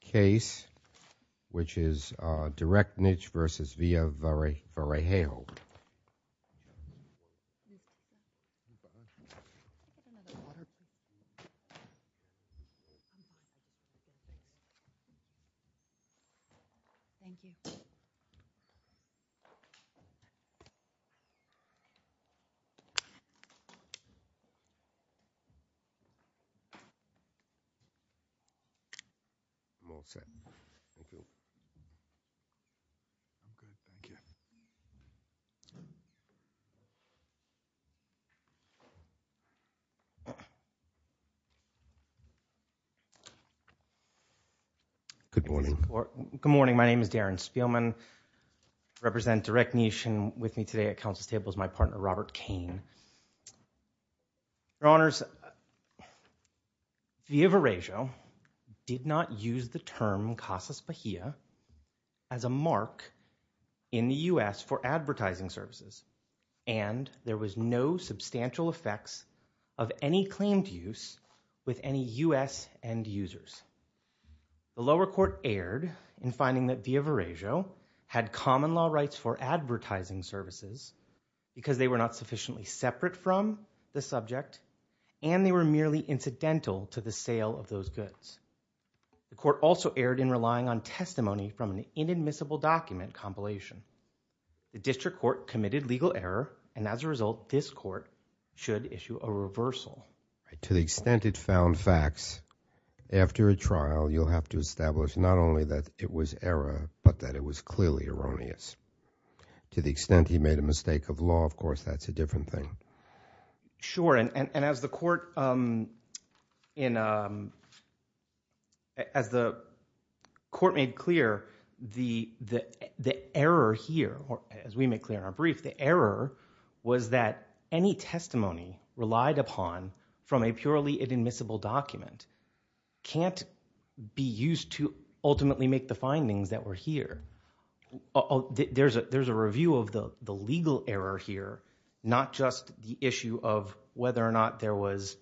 case which is Direct Niche v. Via Varejo. Good morning, my name is Darren Spielman. I represent Direct Niche and with me today at counsel's table is my partner Robert Kane. Your Honors, Via Varejo did not use the term Casas Bahia as a mark in the U.S. for advertising services and there was no substantial effects of any claimed use with any U.S. end users. The lower court erred in finding that Via Bahia had unlawed rights for advertising services because they were not sufficiently separate from the subject and they were merely incidental to the sale of those goods. The court also erred in relying on testimony from an inadmissible document compilation. The district court committed legal error and as a result this court should issue a reversal. To the extent it found facts after a trial you'll have to establish not only that it was error but that it was clearly erroneous. To the extent he made a mistake of law of course that's a different thing. Sure and as the court in as the court made clear the the error here or as we make clear in our brief the error was that any testimony relied upon from a purely inadmissible document can't be used to ultimately make the findings that were here. There's a there's a review of the the legal error here not just the issue of whether or not there was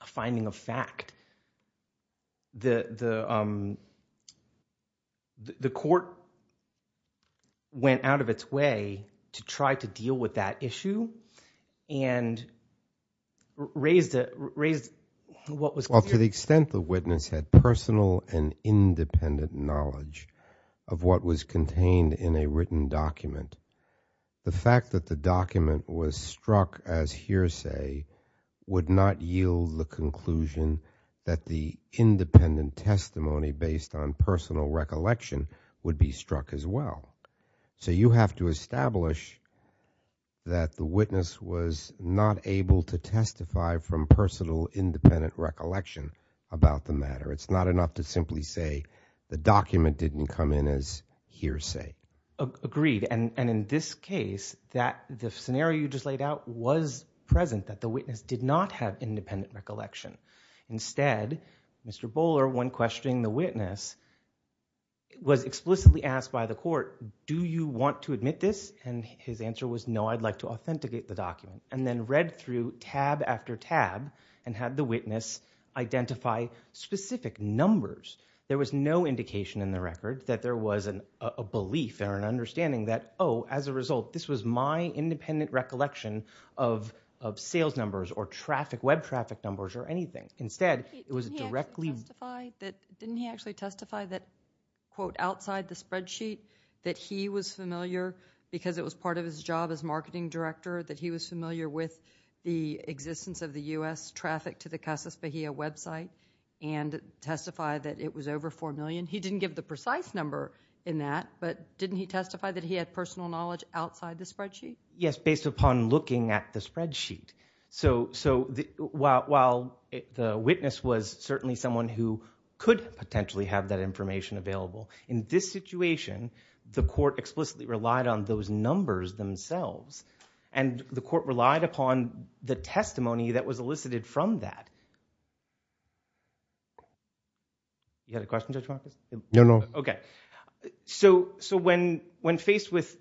a finding of fact. The the the court went out of its way to try to deal with that issue and raised it raised what was called to the extent the witness had personal and independent knowledge of what was contained in a written document the fact that the document was struck as hearsay would not yield the conclusion that the independent testimony based on personal recollection would be struck as well. So you have to establish that the witness was not able to testify from personal independent recollection about the matter. It's not enough to simply say the document didn't come in as hearsay. Agreed and and in this case that the scenario you just laid out was present that the witness did not have independent recollection. Instead Mr. Bowler when questioning the witness was explicitly asked by the court do you want to admit this and his answer was no I'd like to identify specific numbers. There was no indication in the record that there was an a belief or an understanding that oh as a result this was my independent recollection of sales numbers or traffic web traffic numbers or anything. Instead it was directly. Didn't he actually testify that quote outside the spreadsheet that he was familiar because it was part of his job as marketing director that he was familiar with the existence of the US traffic to the Casas Bahia website and testify that it was over four million. He didn't give the precise number in that but didn't he testify that he had personal knowledge outside the spreadsheet? Yes based upon looking at the spreadsheet. So while the witness was certainly someone who could potentially have that information available in this situation the court explicitly relied on those numbers themselves and the court relied upon the testimony that was elicited from that. You had a question Judge Marcus? No no. Okay so so when when faced with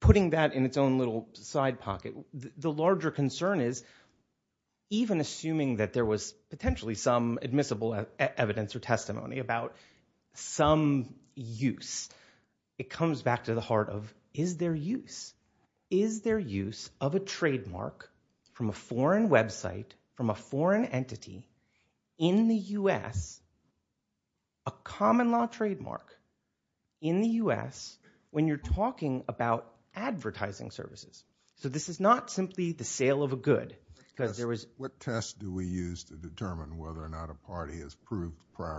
putting that in its own little side pocket the larger concern is even assuming that there was potentially some admissible evidence or testimony about some use it comes back to the heart of is there use. Is there use of a trademark from a foreign website from a foreign entity in the US a common-law trademark in the US when you're talking about advertising services. So this is not simply the sale of a prior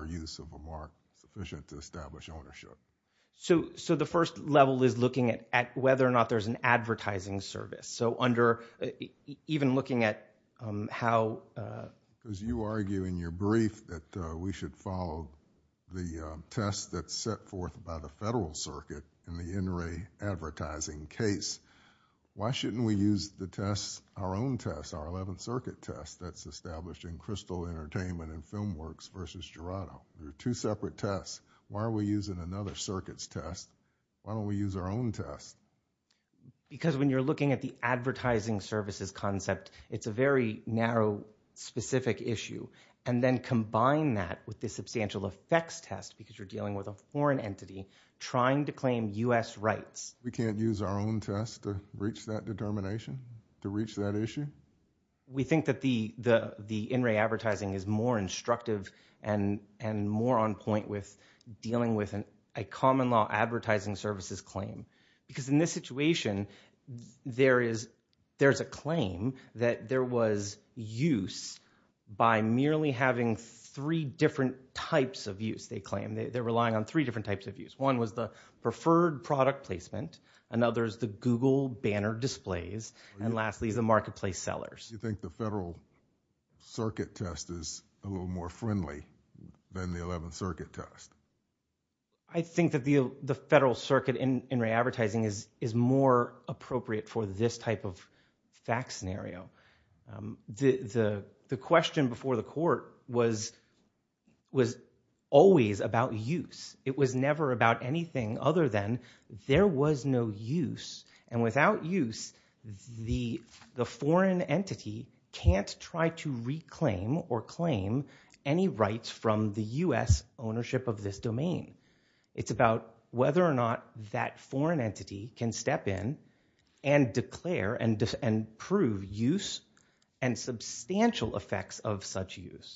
use of a mark sufficient to establish ownership. So so the first level is looking at at whether or not there's an advertising service. So under even looking at how as you argue in your brief that we should follow the test that's set forth by the Federal Circuit in the NRA advertising case. Why shouldn't we use the tests our own tests our 11th Circuit test that's established in Crystal Entertainment and Filmworks versus Gerardo. There are two separate tests. Why are we using another circuits test? Why don't we use our own test? Because when you're looking at the advertising services concept it's a very narrow specific issue and then combine that with the substantial effects test because you're dealing with a foreign entity trying to claim US rights. We can't use our own test to reach that determination to think that the the the NRA advertising is more instructive and and more on point with dealing with an a common-law advertising services claim. Because in this situation there is there's a claim that there was use by merely having three different types of use they claim they're relying on three different types of use. One was the preferred product placement another is the banner displays and lastly the marketplace sellers. You think the Federal Circuit test is a little more friendly than the 11th Circuit test? I think that the the Federal Circuit in NRA advertising is is more appropriate for this type of fact scenario. The the question before the court was was always about use it was never about anything other than there was no use and without use the the foreign entity can't try to reclaim or claim any rights from the US ownership of this domain. It's about whether or not that foreign entity can step in and declare and and prove use and substantial effects of such use.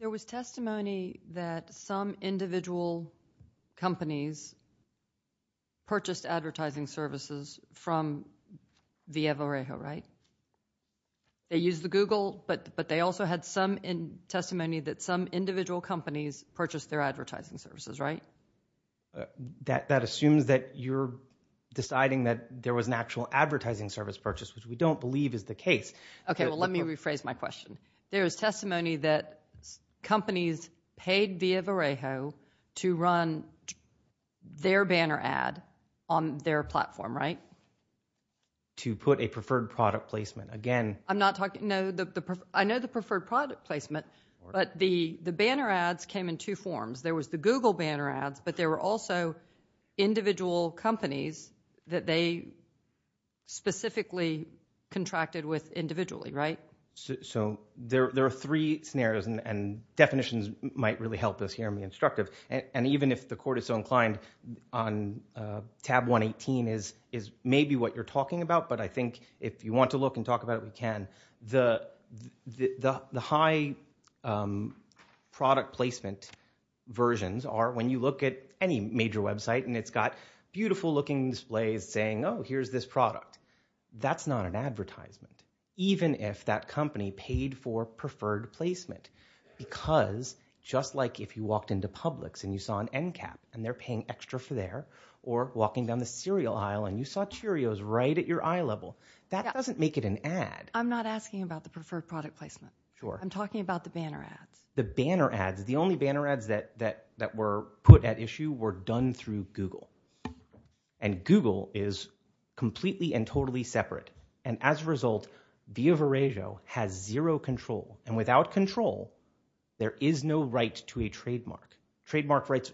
There was testimony that some individual companies purchased advertising services from via Varejo right? They use the Google but but they also had some in testimony that some individual companies purchased their advertising services right? That that assumes that you're deciding that there was an actual advertising service purchase which we don't believe is the case. Okay well let me rephrase my question. There is testimony that companies paid via Varejo to run their banner ad on their platform right? To put a preferred product placement again. I'm not talking no the I know the preferred product placement but the the banner ads came in two forms. There was the Google banner ads but there were also individual companies that they specifically contracted with individually right? So there are three scenarios and definitions might really help us here in the instructive and even if the court is so inclined on tab 118 is is maybe what you're talking about but I think if you want to look and talk about it we can. The the high product placement versions are when you look at any major website and it's got beautiful looking displays saying oh here's this product. That's not an advertisement even if that company paid for preferred placement because just like if you walked into Publix and you saw an end cap and they're paying extra for there or walking down the cereal aisle and you saw Cheerios right at your eye level that doesn't make it an ad. I'm not asking about the preferred product placement. Sure. I'm talking about the banner ads. The banner ads the only banner ads that that that were put at issue were done through Google and Google is completely and totally separate and as a result Via Varejo has zero control and without control there is no right to a trademark. Trademark rights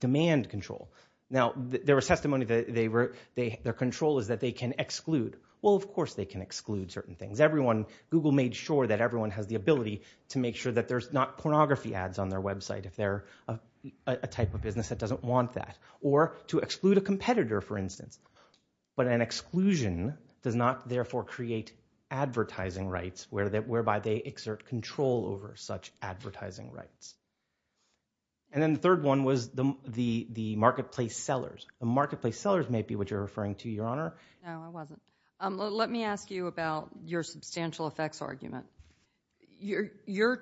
demand control. Now there was testimony that they were they their control is that they can exclude. Well of course they can exclude certain things. Everyone Google made sure that everyone has the ability to make sure that there's not pornography ads on their website if they're a type of business that doesn't want that or to exclude a competitor for instance but an exclusion does not therefore create advertising rights where that whereby they exert control over such advertising rights. And then the third one was the the the marketplace sellers. The marketplace sellers may be what you're referring to your honor. No I wasn't. Let me ask you about your substantial effects argument. You're you're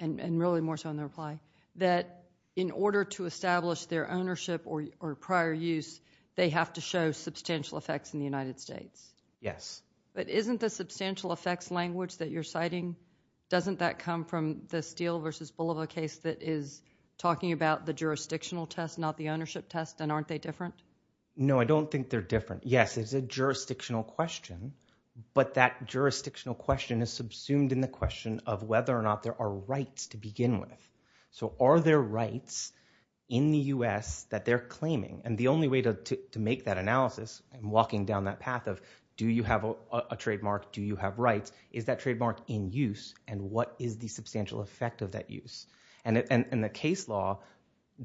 and really more so in the reply that in order to establish their ownership or prior use they have to show substantial effects in the United States. Yes. But isn't the substantial effects language that you're citing doesn't that come from the Steele versus Bolivar case that is talking about the jurisdictional test not the ownership test and aren't they different? No I don't think they're different. Yes it's a jurisdictional question but that jurisdictional question is subsumed in the whether or not there are rights to begin with. So are there rights in the U.S. that they're claiming and the only way to make that analysis and walking down that path of do you have a trademark do you have rights is that trademark in use and what is the substantial effect of that use. And in the case law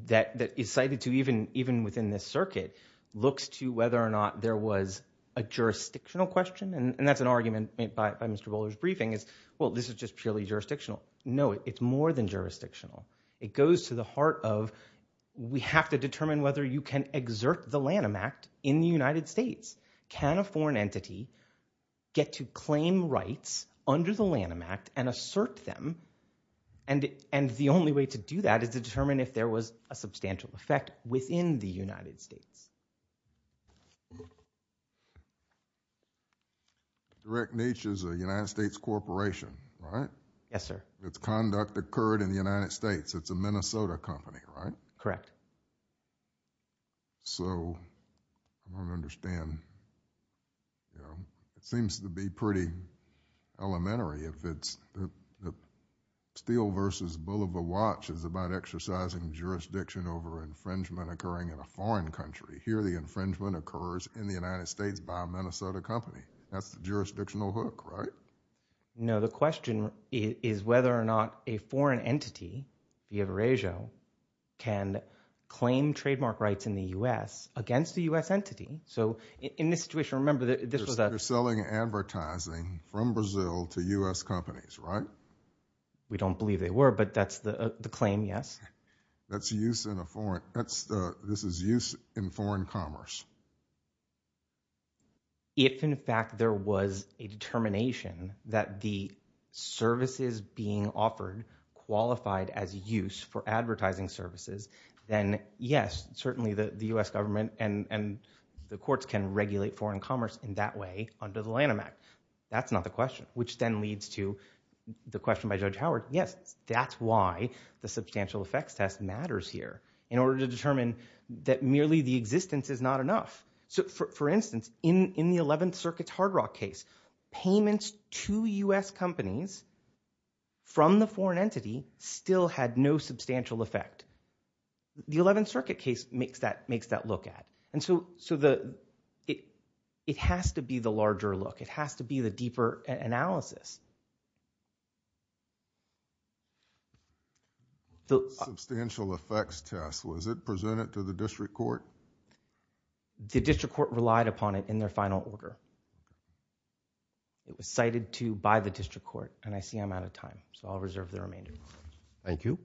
that that is cited to even even within this circuit looks to whether or not there was a jurisdictional question and that's an argument made by Mr. Bowler's briefing is well this is just purely jurisdictional. No it's more than jurisdictional it goes to the heart of we have to determine whether you can exert the Lanham Act in the United States. Can a foreign entity get to claim rights under the Lanham Act and assert them and and the only way to do that is to determine if there was a substantial effect within the United States. Direct niche is a United States corporation right? Yes sir. Its conduct occurred in the United States it's a Minnesota company right? Correct. So I don't understand you know it seems to be pretty elementary if it's the Steele versus Bulova watch is about exercising jurisdiction over infringement occurring in a foreign country here the infringement occurs in the United States by a Minnesota company that's the jurisdictional hook right? No the question is whether or not a foreign entity the Eurasia can claim trademark rights in the U.S. against the U.S. entity so in this situation remember that this was a selling advertising from Brazil to U.S. companies right? We don't believe they were but that's the claim yes. That's a use in a foreign that's this is use in foreign commerce. If in fact there was a determination that the services being offered qualified as use for advertising services then yes certainly the the U.S. government and and the courts can regulate foreign commerce in that way under the Lanham Act that's not the question which then leads to the question by Judge Howard yes that's why the substantial effects test matters here in order to determine that merely the existence is not enough. So for instance in in the 11th Circuit's Hard Rock case payments to U.S. companies from the foreign entity still had no substantial effect. The 11th Circuit case makes that makes that look at and so so the it it has to be the larger look it has to be the deeper analysis. The substantial effects test was it presented to the district court? The district court relied upon it in their final order. It was cited to by the district court and I see I'm out of time so I'll reserve the remainder. Thank you.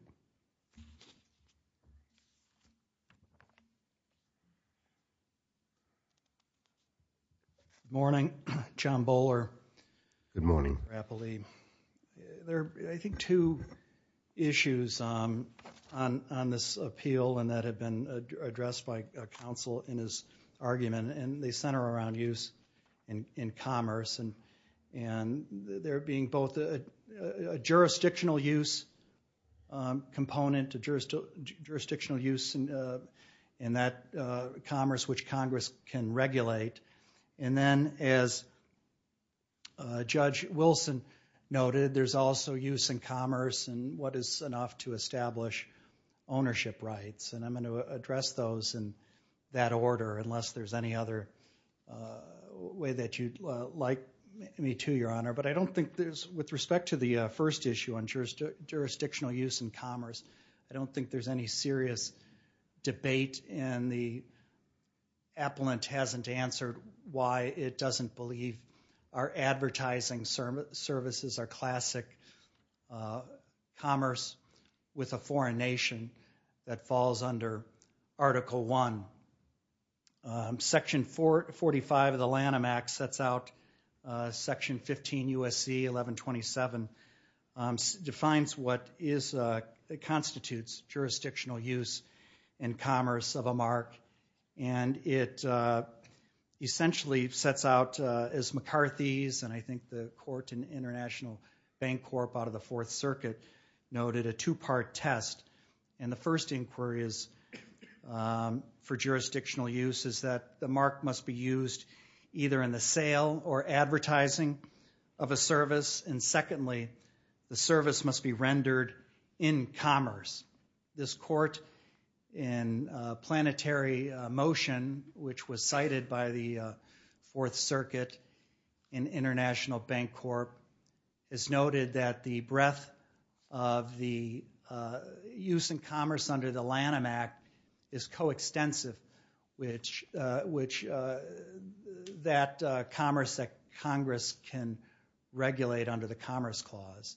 Morning John Bowler. Good morning. There I think two issues on on this appeal and that have been addressed by counsel in his argument and they center around use and in commerce and and there being both a jurisdictional use component to jurisdictional use and in that commerce which as Judge Wilson noted there's also use in commerce and what is enough to establish ownership rights and I'm going to address those in that order unless there's any other way that you'd like me to your honor but I don't think there's with respect to the first issue on jurisdictional use and commerce I don't think there's any serious debate and the appellant hasn't answered why it doesn't believe our advertising service services are classic commerce with a foreign nation that falls under article 1 section 445 of the Lanham Act sets out section 15 USC 1127 defines what is that constitutes jurisdictional use and commerce of a mark and it essentially sets out as McCarthy's and I think the court and International Bank Corp out of the Fourth Circuit noted a two-part test and the first inquiry is for jurisdictional use is that the mark must be used either in the sale or advertising of a service and secondly the service must be rendered in commerce this court in planetary motion which was cited by the Fourth Circuit in International Bank Corp is noted that the breadth of the use in commerce under the Lanham Act is coextensive which that commerce that Congress can regulate under the Commerce Clause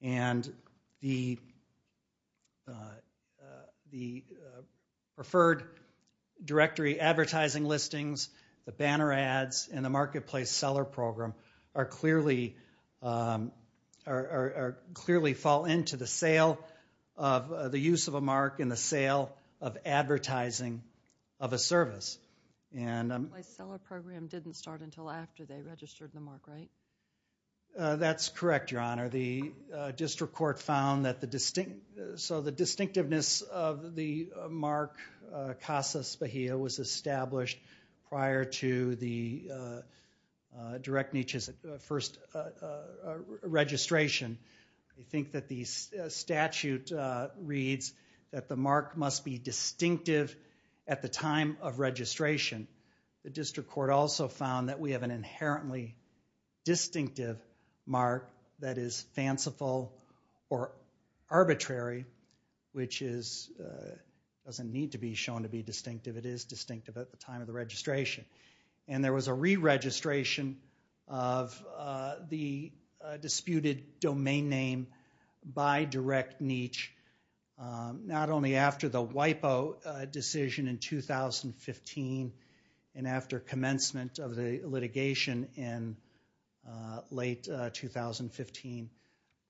and the preferred directory advertising listings the banner ads in the marketplace seller program are clearly are clearly fall into the sale of the use of a mark in the sale of advertising of a service and didn't start until after they registered the mark right that's correct your honor the district court found that the distinct so the distinctiveness of the mark Casa Spahia was established prior to the direct Nietzsche's first registration I think that these statute reads that the mark must be distinctive at the time of registration the district court also found that we have an inherently distinctive mark that is fanciful or arbitrary which is doesn't need to be shown to be distinctive it is distinctive at the time of the registration and there was a re-registration of the disputed domain name by direct Nietzsche not only after the WIPO decision in 2015 and after commencement of the litigation in late 2015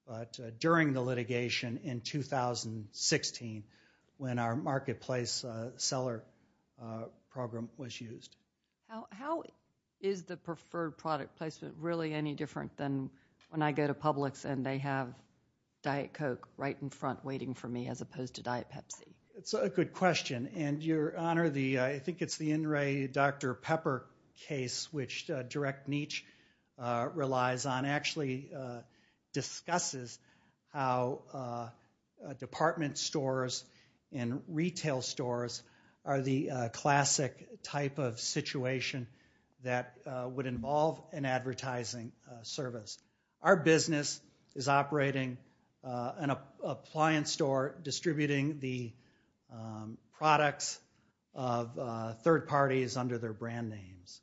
but during the litigation in 2016 when our marketplace seller program was used how is the preferred product placement really any different than when I go to Publix and they have Diet Coke right in front waiting for me as opposed to Diet Pepsi it's a good question and your honor I think it's the in Ray dr. pepper case which direct Nietzsche relies on actually discusses how department stores and retail stores are the classic type of situation that would involve an third party is under their brand names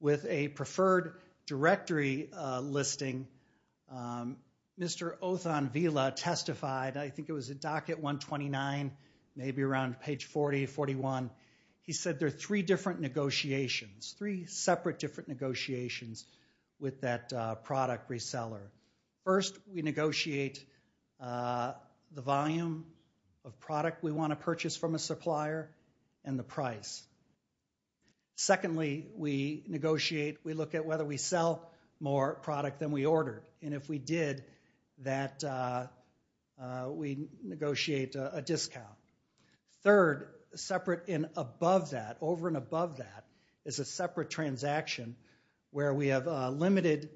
with a preferred directory listing mr. Othon Vila testified I think it was a doc at 129 maybe around page 40 41 he said there are three different negotiations three separate different negotiations with that product reseller first we price secondly we negotiate we look at whether we sell more product than we ordered and if we did that we negotiate a discount third separate in above that over and above that is a separate transaction where we have a limited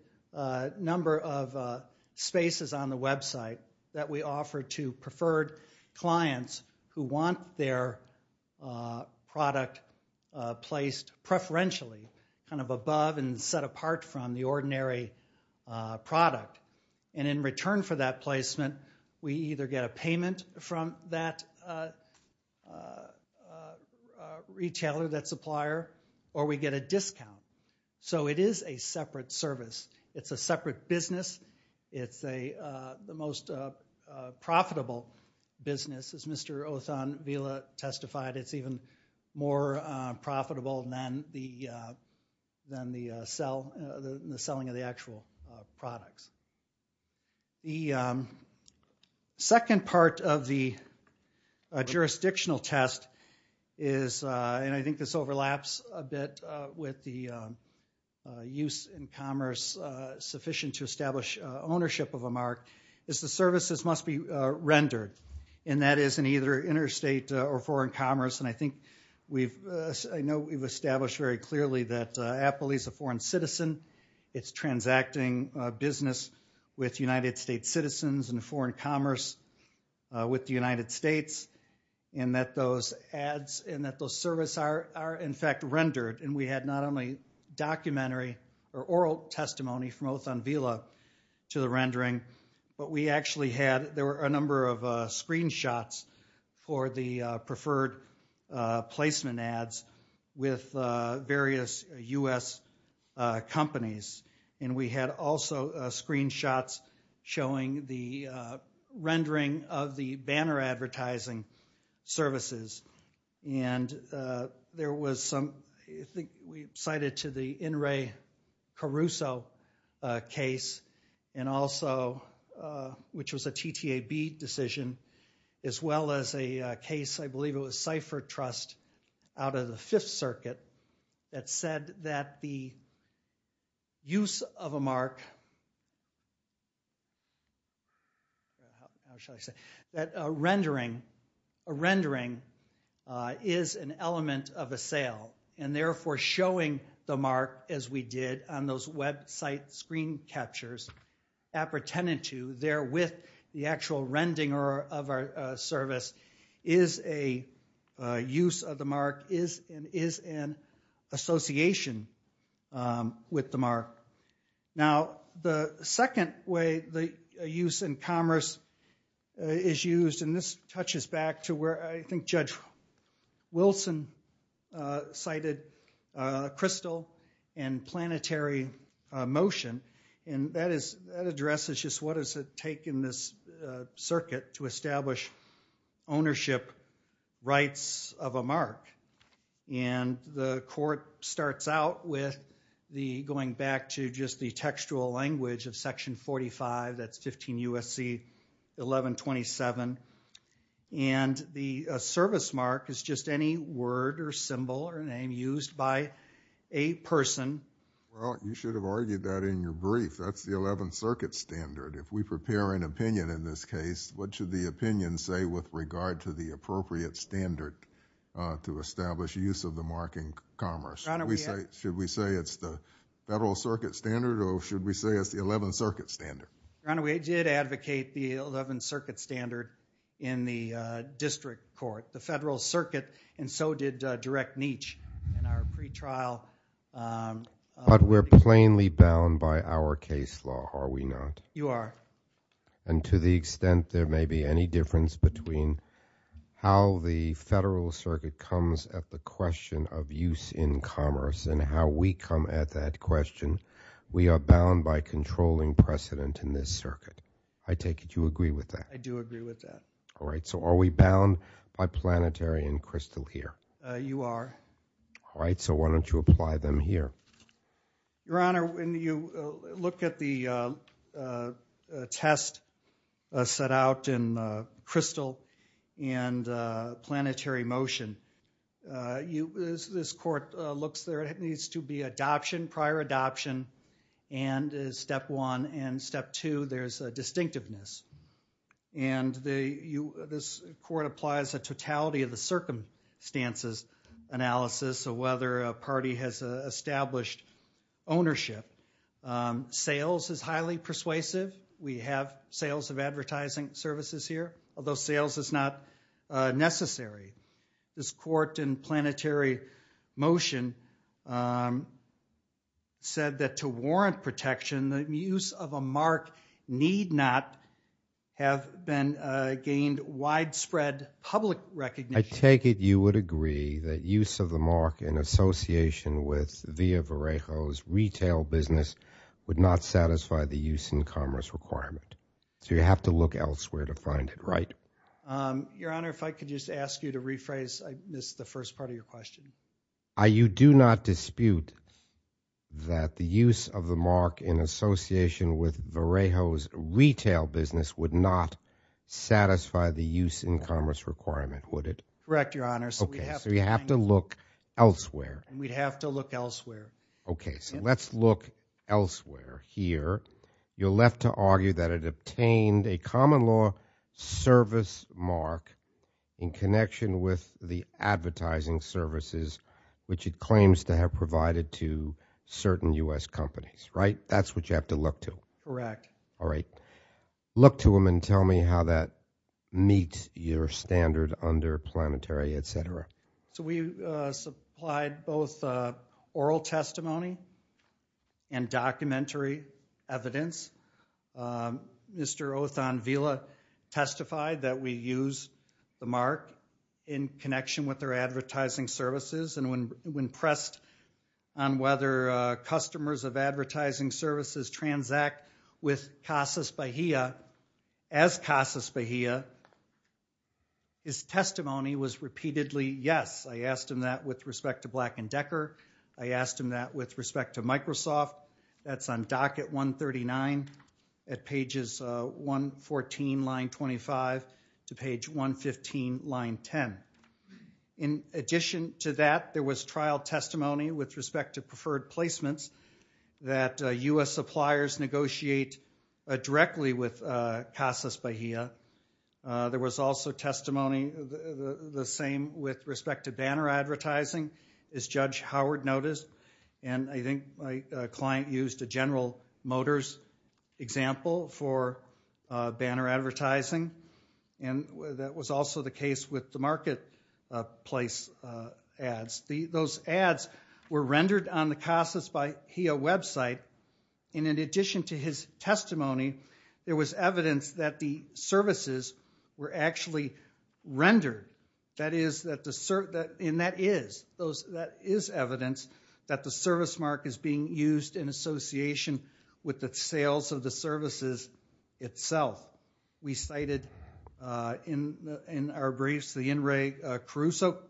number of spaces on the website that we offer to preferred clients who want their product placed preferentially kind of above and set apart from the ordinary product and in return for that placement we either get a payment from that retailer that supplier or we get a discount so it is a separate service it's a separate business it's a the most profitable business as mr. Othon Vila testified it's even more profitable than the than the sell the selling of the actual products the second part of the jurisdictional test is and ownership of a mark is the services must be rendered and that is in either interstate or foreign commerce and I think we've I know we've established very clearly that Apple is a foreign citizen it's transacting business with United States citizens and foreign commerce with the United States and that those ads and that those service are are in fact rendered and we had not only documentary or oral testimony from Othon Vila to the rendering but we actually had there were a number of screenshots for the preferred placement ads with various US companies and we had also screenshots showing the rendering of the banner advertising services and there was some we cited to the in Ray Caruso case and also which was a TTAB decision as well as a case I believe it was cypher trust out of the Fifth Circuit that said that the use of a mark that rendering a element of a sale and therefore showing the mark as we did on those website screen captures appertaining to there with the actual rendering or of our service is a use of the mark is and is an association with the mark now the second way the use in commerce is used and this touches back to where I think Judge Wilson cited crystal and planetary motion and that is address is just what does it take in this circuit to establish ownership rights of a mark and the court starts out with the back to just the textual language of section 45 that's 15 USC 1127 and the service mark is just any word or symbol or name used by a person well you should have argued that in your brief that's the 11th Circuit standard if we prepare an opinion in this case what should the opinion say with regard to the appropriate standard to establish use of the marking commerce we say should we say it's the Federal Circuit standard or should we say it's the 11th Circuit standard and we did advocate the 11th Circuit standard in the district court the Federal Circuit and so did direct niche and our pretrial but we're plainly bound by our case law are we not you are and to the extent there may be any difference between how the Federal Circuit comes at the question of use in at that question we are bound by controlling precedent in this circuit I take it you agree with that I do agree with that all right so are we bound by planetary and crystal here you are all right so why don't you apply them here your honor when you look at the test set out in crystal and planetary motion you this court looks there it needs to be adoption prior adoption and step one and step two there's a distinctiveness and the you this court applies a totality of the circumstances analysis of whether a party has established ownership sales is highly persuasive we have sales of advertising services here although sales is not necessary this court and planetary motion said that to warrant protection the use of a mark need not have been gained widespread public recognition I take it you would agree that use of the mark in association with via Varejo's retail business would not satisfy the use in commerce requirement so you have to look elsewhere to find it right your honor if I could just ask you to rephrase this the first part of your question I you do not dispute that the use of the mark in association with Varejo's retail business would not satisfy the use in commerce requirement would it correct your honor okay so you have to look elsewhere we'd have to look elsewhere okay so let's look elsewhere here you're left to argue that it obtained a common law service mark in connection with the advertising services which it claims to have provided to certain US companies right that's what you have to look to correct all right look to him and tell me how that meets your standard under planetary etc so we supplied both oral testimony and documentary evidence mr. Othon Villa testified that we use the mark in connection with their advertising services and when when pressed on whether customers of advertising services transact with Casas Bahia as Casas Bahia his testimony was repeatedly yes I asked him that with respect to black and Decker I asked him that with respect to Microsoft that's on dock at 139 at pages 114 line 25 to page 115 line 10 in addition to that there was trial testimony with respect to preferred placements that US suppliers negotiate directly with Casas Bahia there was also testimony the same with respect to banner advertising as judge Howard noticed and I think my client used a General Motors example for banner advertising and that was also the case with the marketplace ads the those ads were rendered on the Casas Bahia website and in addition to his testimony there was evidence that the services were actually rendered that is that the cert that in that is those that is evidence that the service mark is being used in association with the sales of the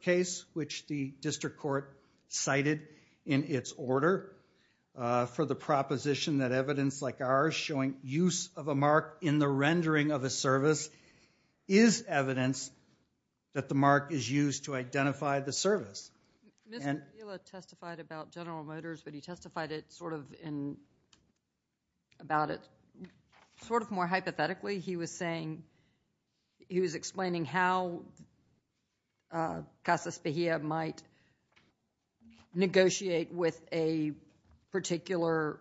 case which the district court cited in its order for the proposition that evidence like ours showing use of a mark in the rendering of a service is evidence that the mark is used to identify the service but he testified it sort of in about it sort of more hypothetically he was saying he was explaining how Casas Bahia might negotiate with a particular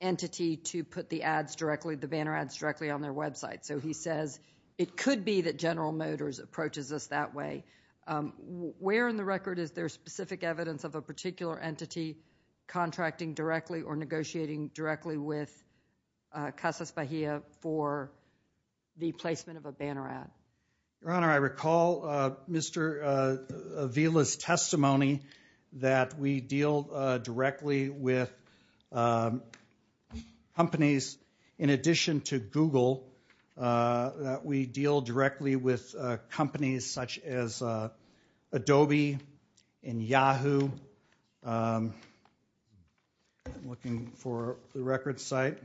entity to put the ads directly the banner ads directly on their website so he says it could be that General Motors approaches us that way where in the record is there specific evidence of a particular entity contracting directly or negotiating directly with Casas Bahia for the placement of a banner ad your honor I recall mr. Avila's testimony that we deal directly with companies in addition to looking for the record site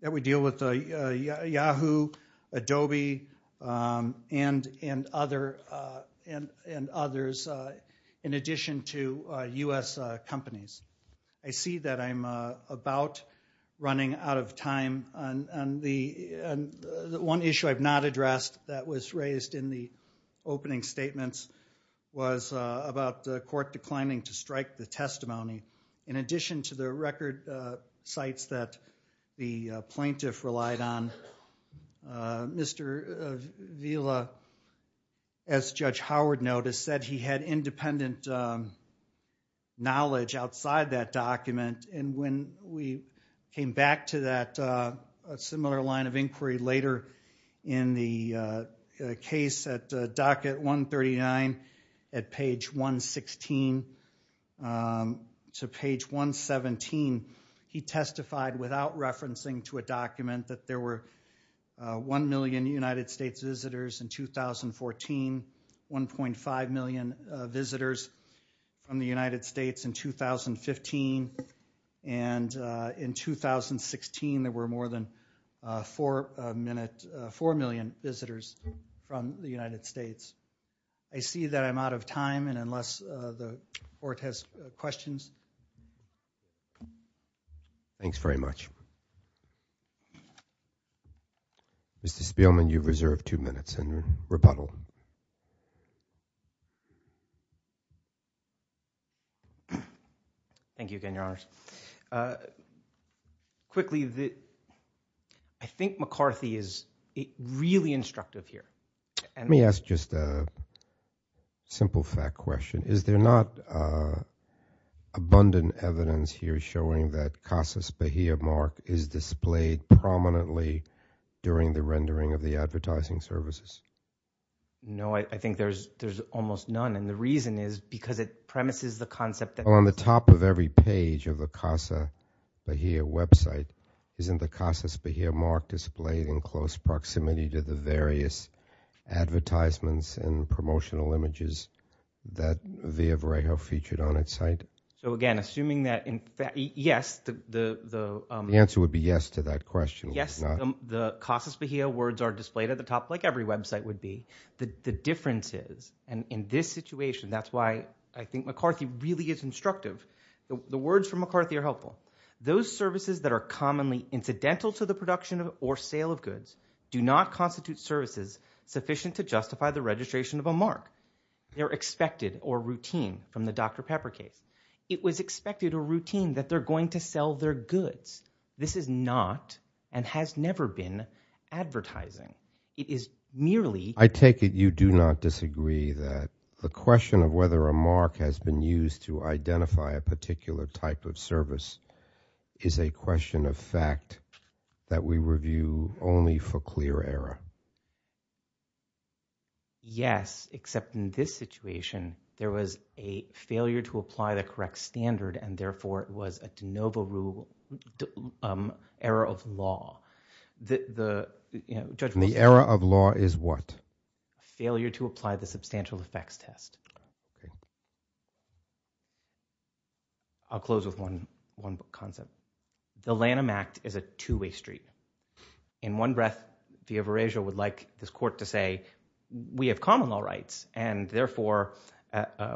that we deal with Yahoo Adobe and and other and and others in addition to US companies I see that I'm about running out of time and the one issue I've not addressed that was raised in the opening statements was about the court declining to strike the testimony in addition to the record sites that the plaintiff relied on mr. Villa as judge Howard notice said he had independent knowledge outside that document and when we came back to that similar line of inquiry later in the case at docket 139 at page 116 to page 117 he testified without referencing to a document that there were and in 2016 there were more than four minute four million visitors from the United States I see that I'm out of time and unless the court has questions thanks very much mr. Spielman you've reserved two quickly that I think McCarthy is really instructive here and me ask just a simple fact question is there not abundant evidence here showing that Casa Bahia mark is displayed prominently during the rendering of the advertising services no I think there's there's almost none and the reason is because it premises the concept that on the top of every page of the Casa Bahia website isn't the Casa Bahia mark displayed in close proximity to the various advertisements and promotional images that via Varejo featured on its site so again assuming that in fact yes the answer would be yes to that question yes the Casa Bahia words are displayed at the top like every website would be the difference is and in this situation that's why I think McCarthy really is instructive the words from McCarthy are helpful those services that are commonly incidental to the production of or sale of goods do not constitute services sufficient to justify the registration of a mark they're expected or routine from the dr. pepper case it was expected a routine that they're going to sell their goods this is not and has never been advertising it is merely I take it you do not disagree that the question of whether a mark has been used to identify a particular type of service is a question of fact that we review only for clear error yes except in this situation there was a failure to apply the correct standard and therefore it was a de novo rule era of law the the judge in the era of law is what failure to apply the substantial effects test I'll close with one one concept the Lanham Act is a two-way street in one breath via Varejo would like this all rights and therefore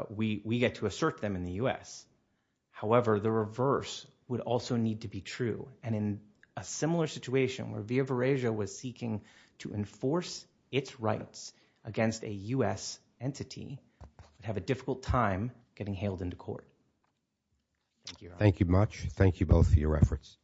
we we get to assert them in the US however the reverse would also need to be true and in a similar situation where via Varejo was seeking to enforce its rights against a US entity have a difficult time getting hailed into court thank you much thank you both for your efforts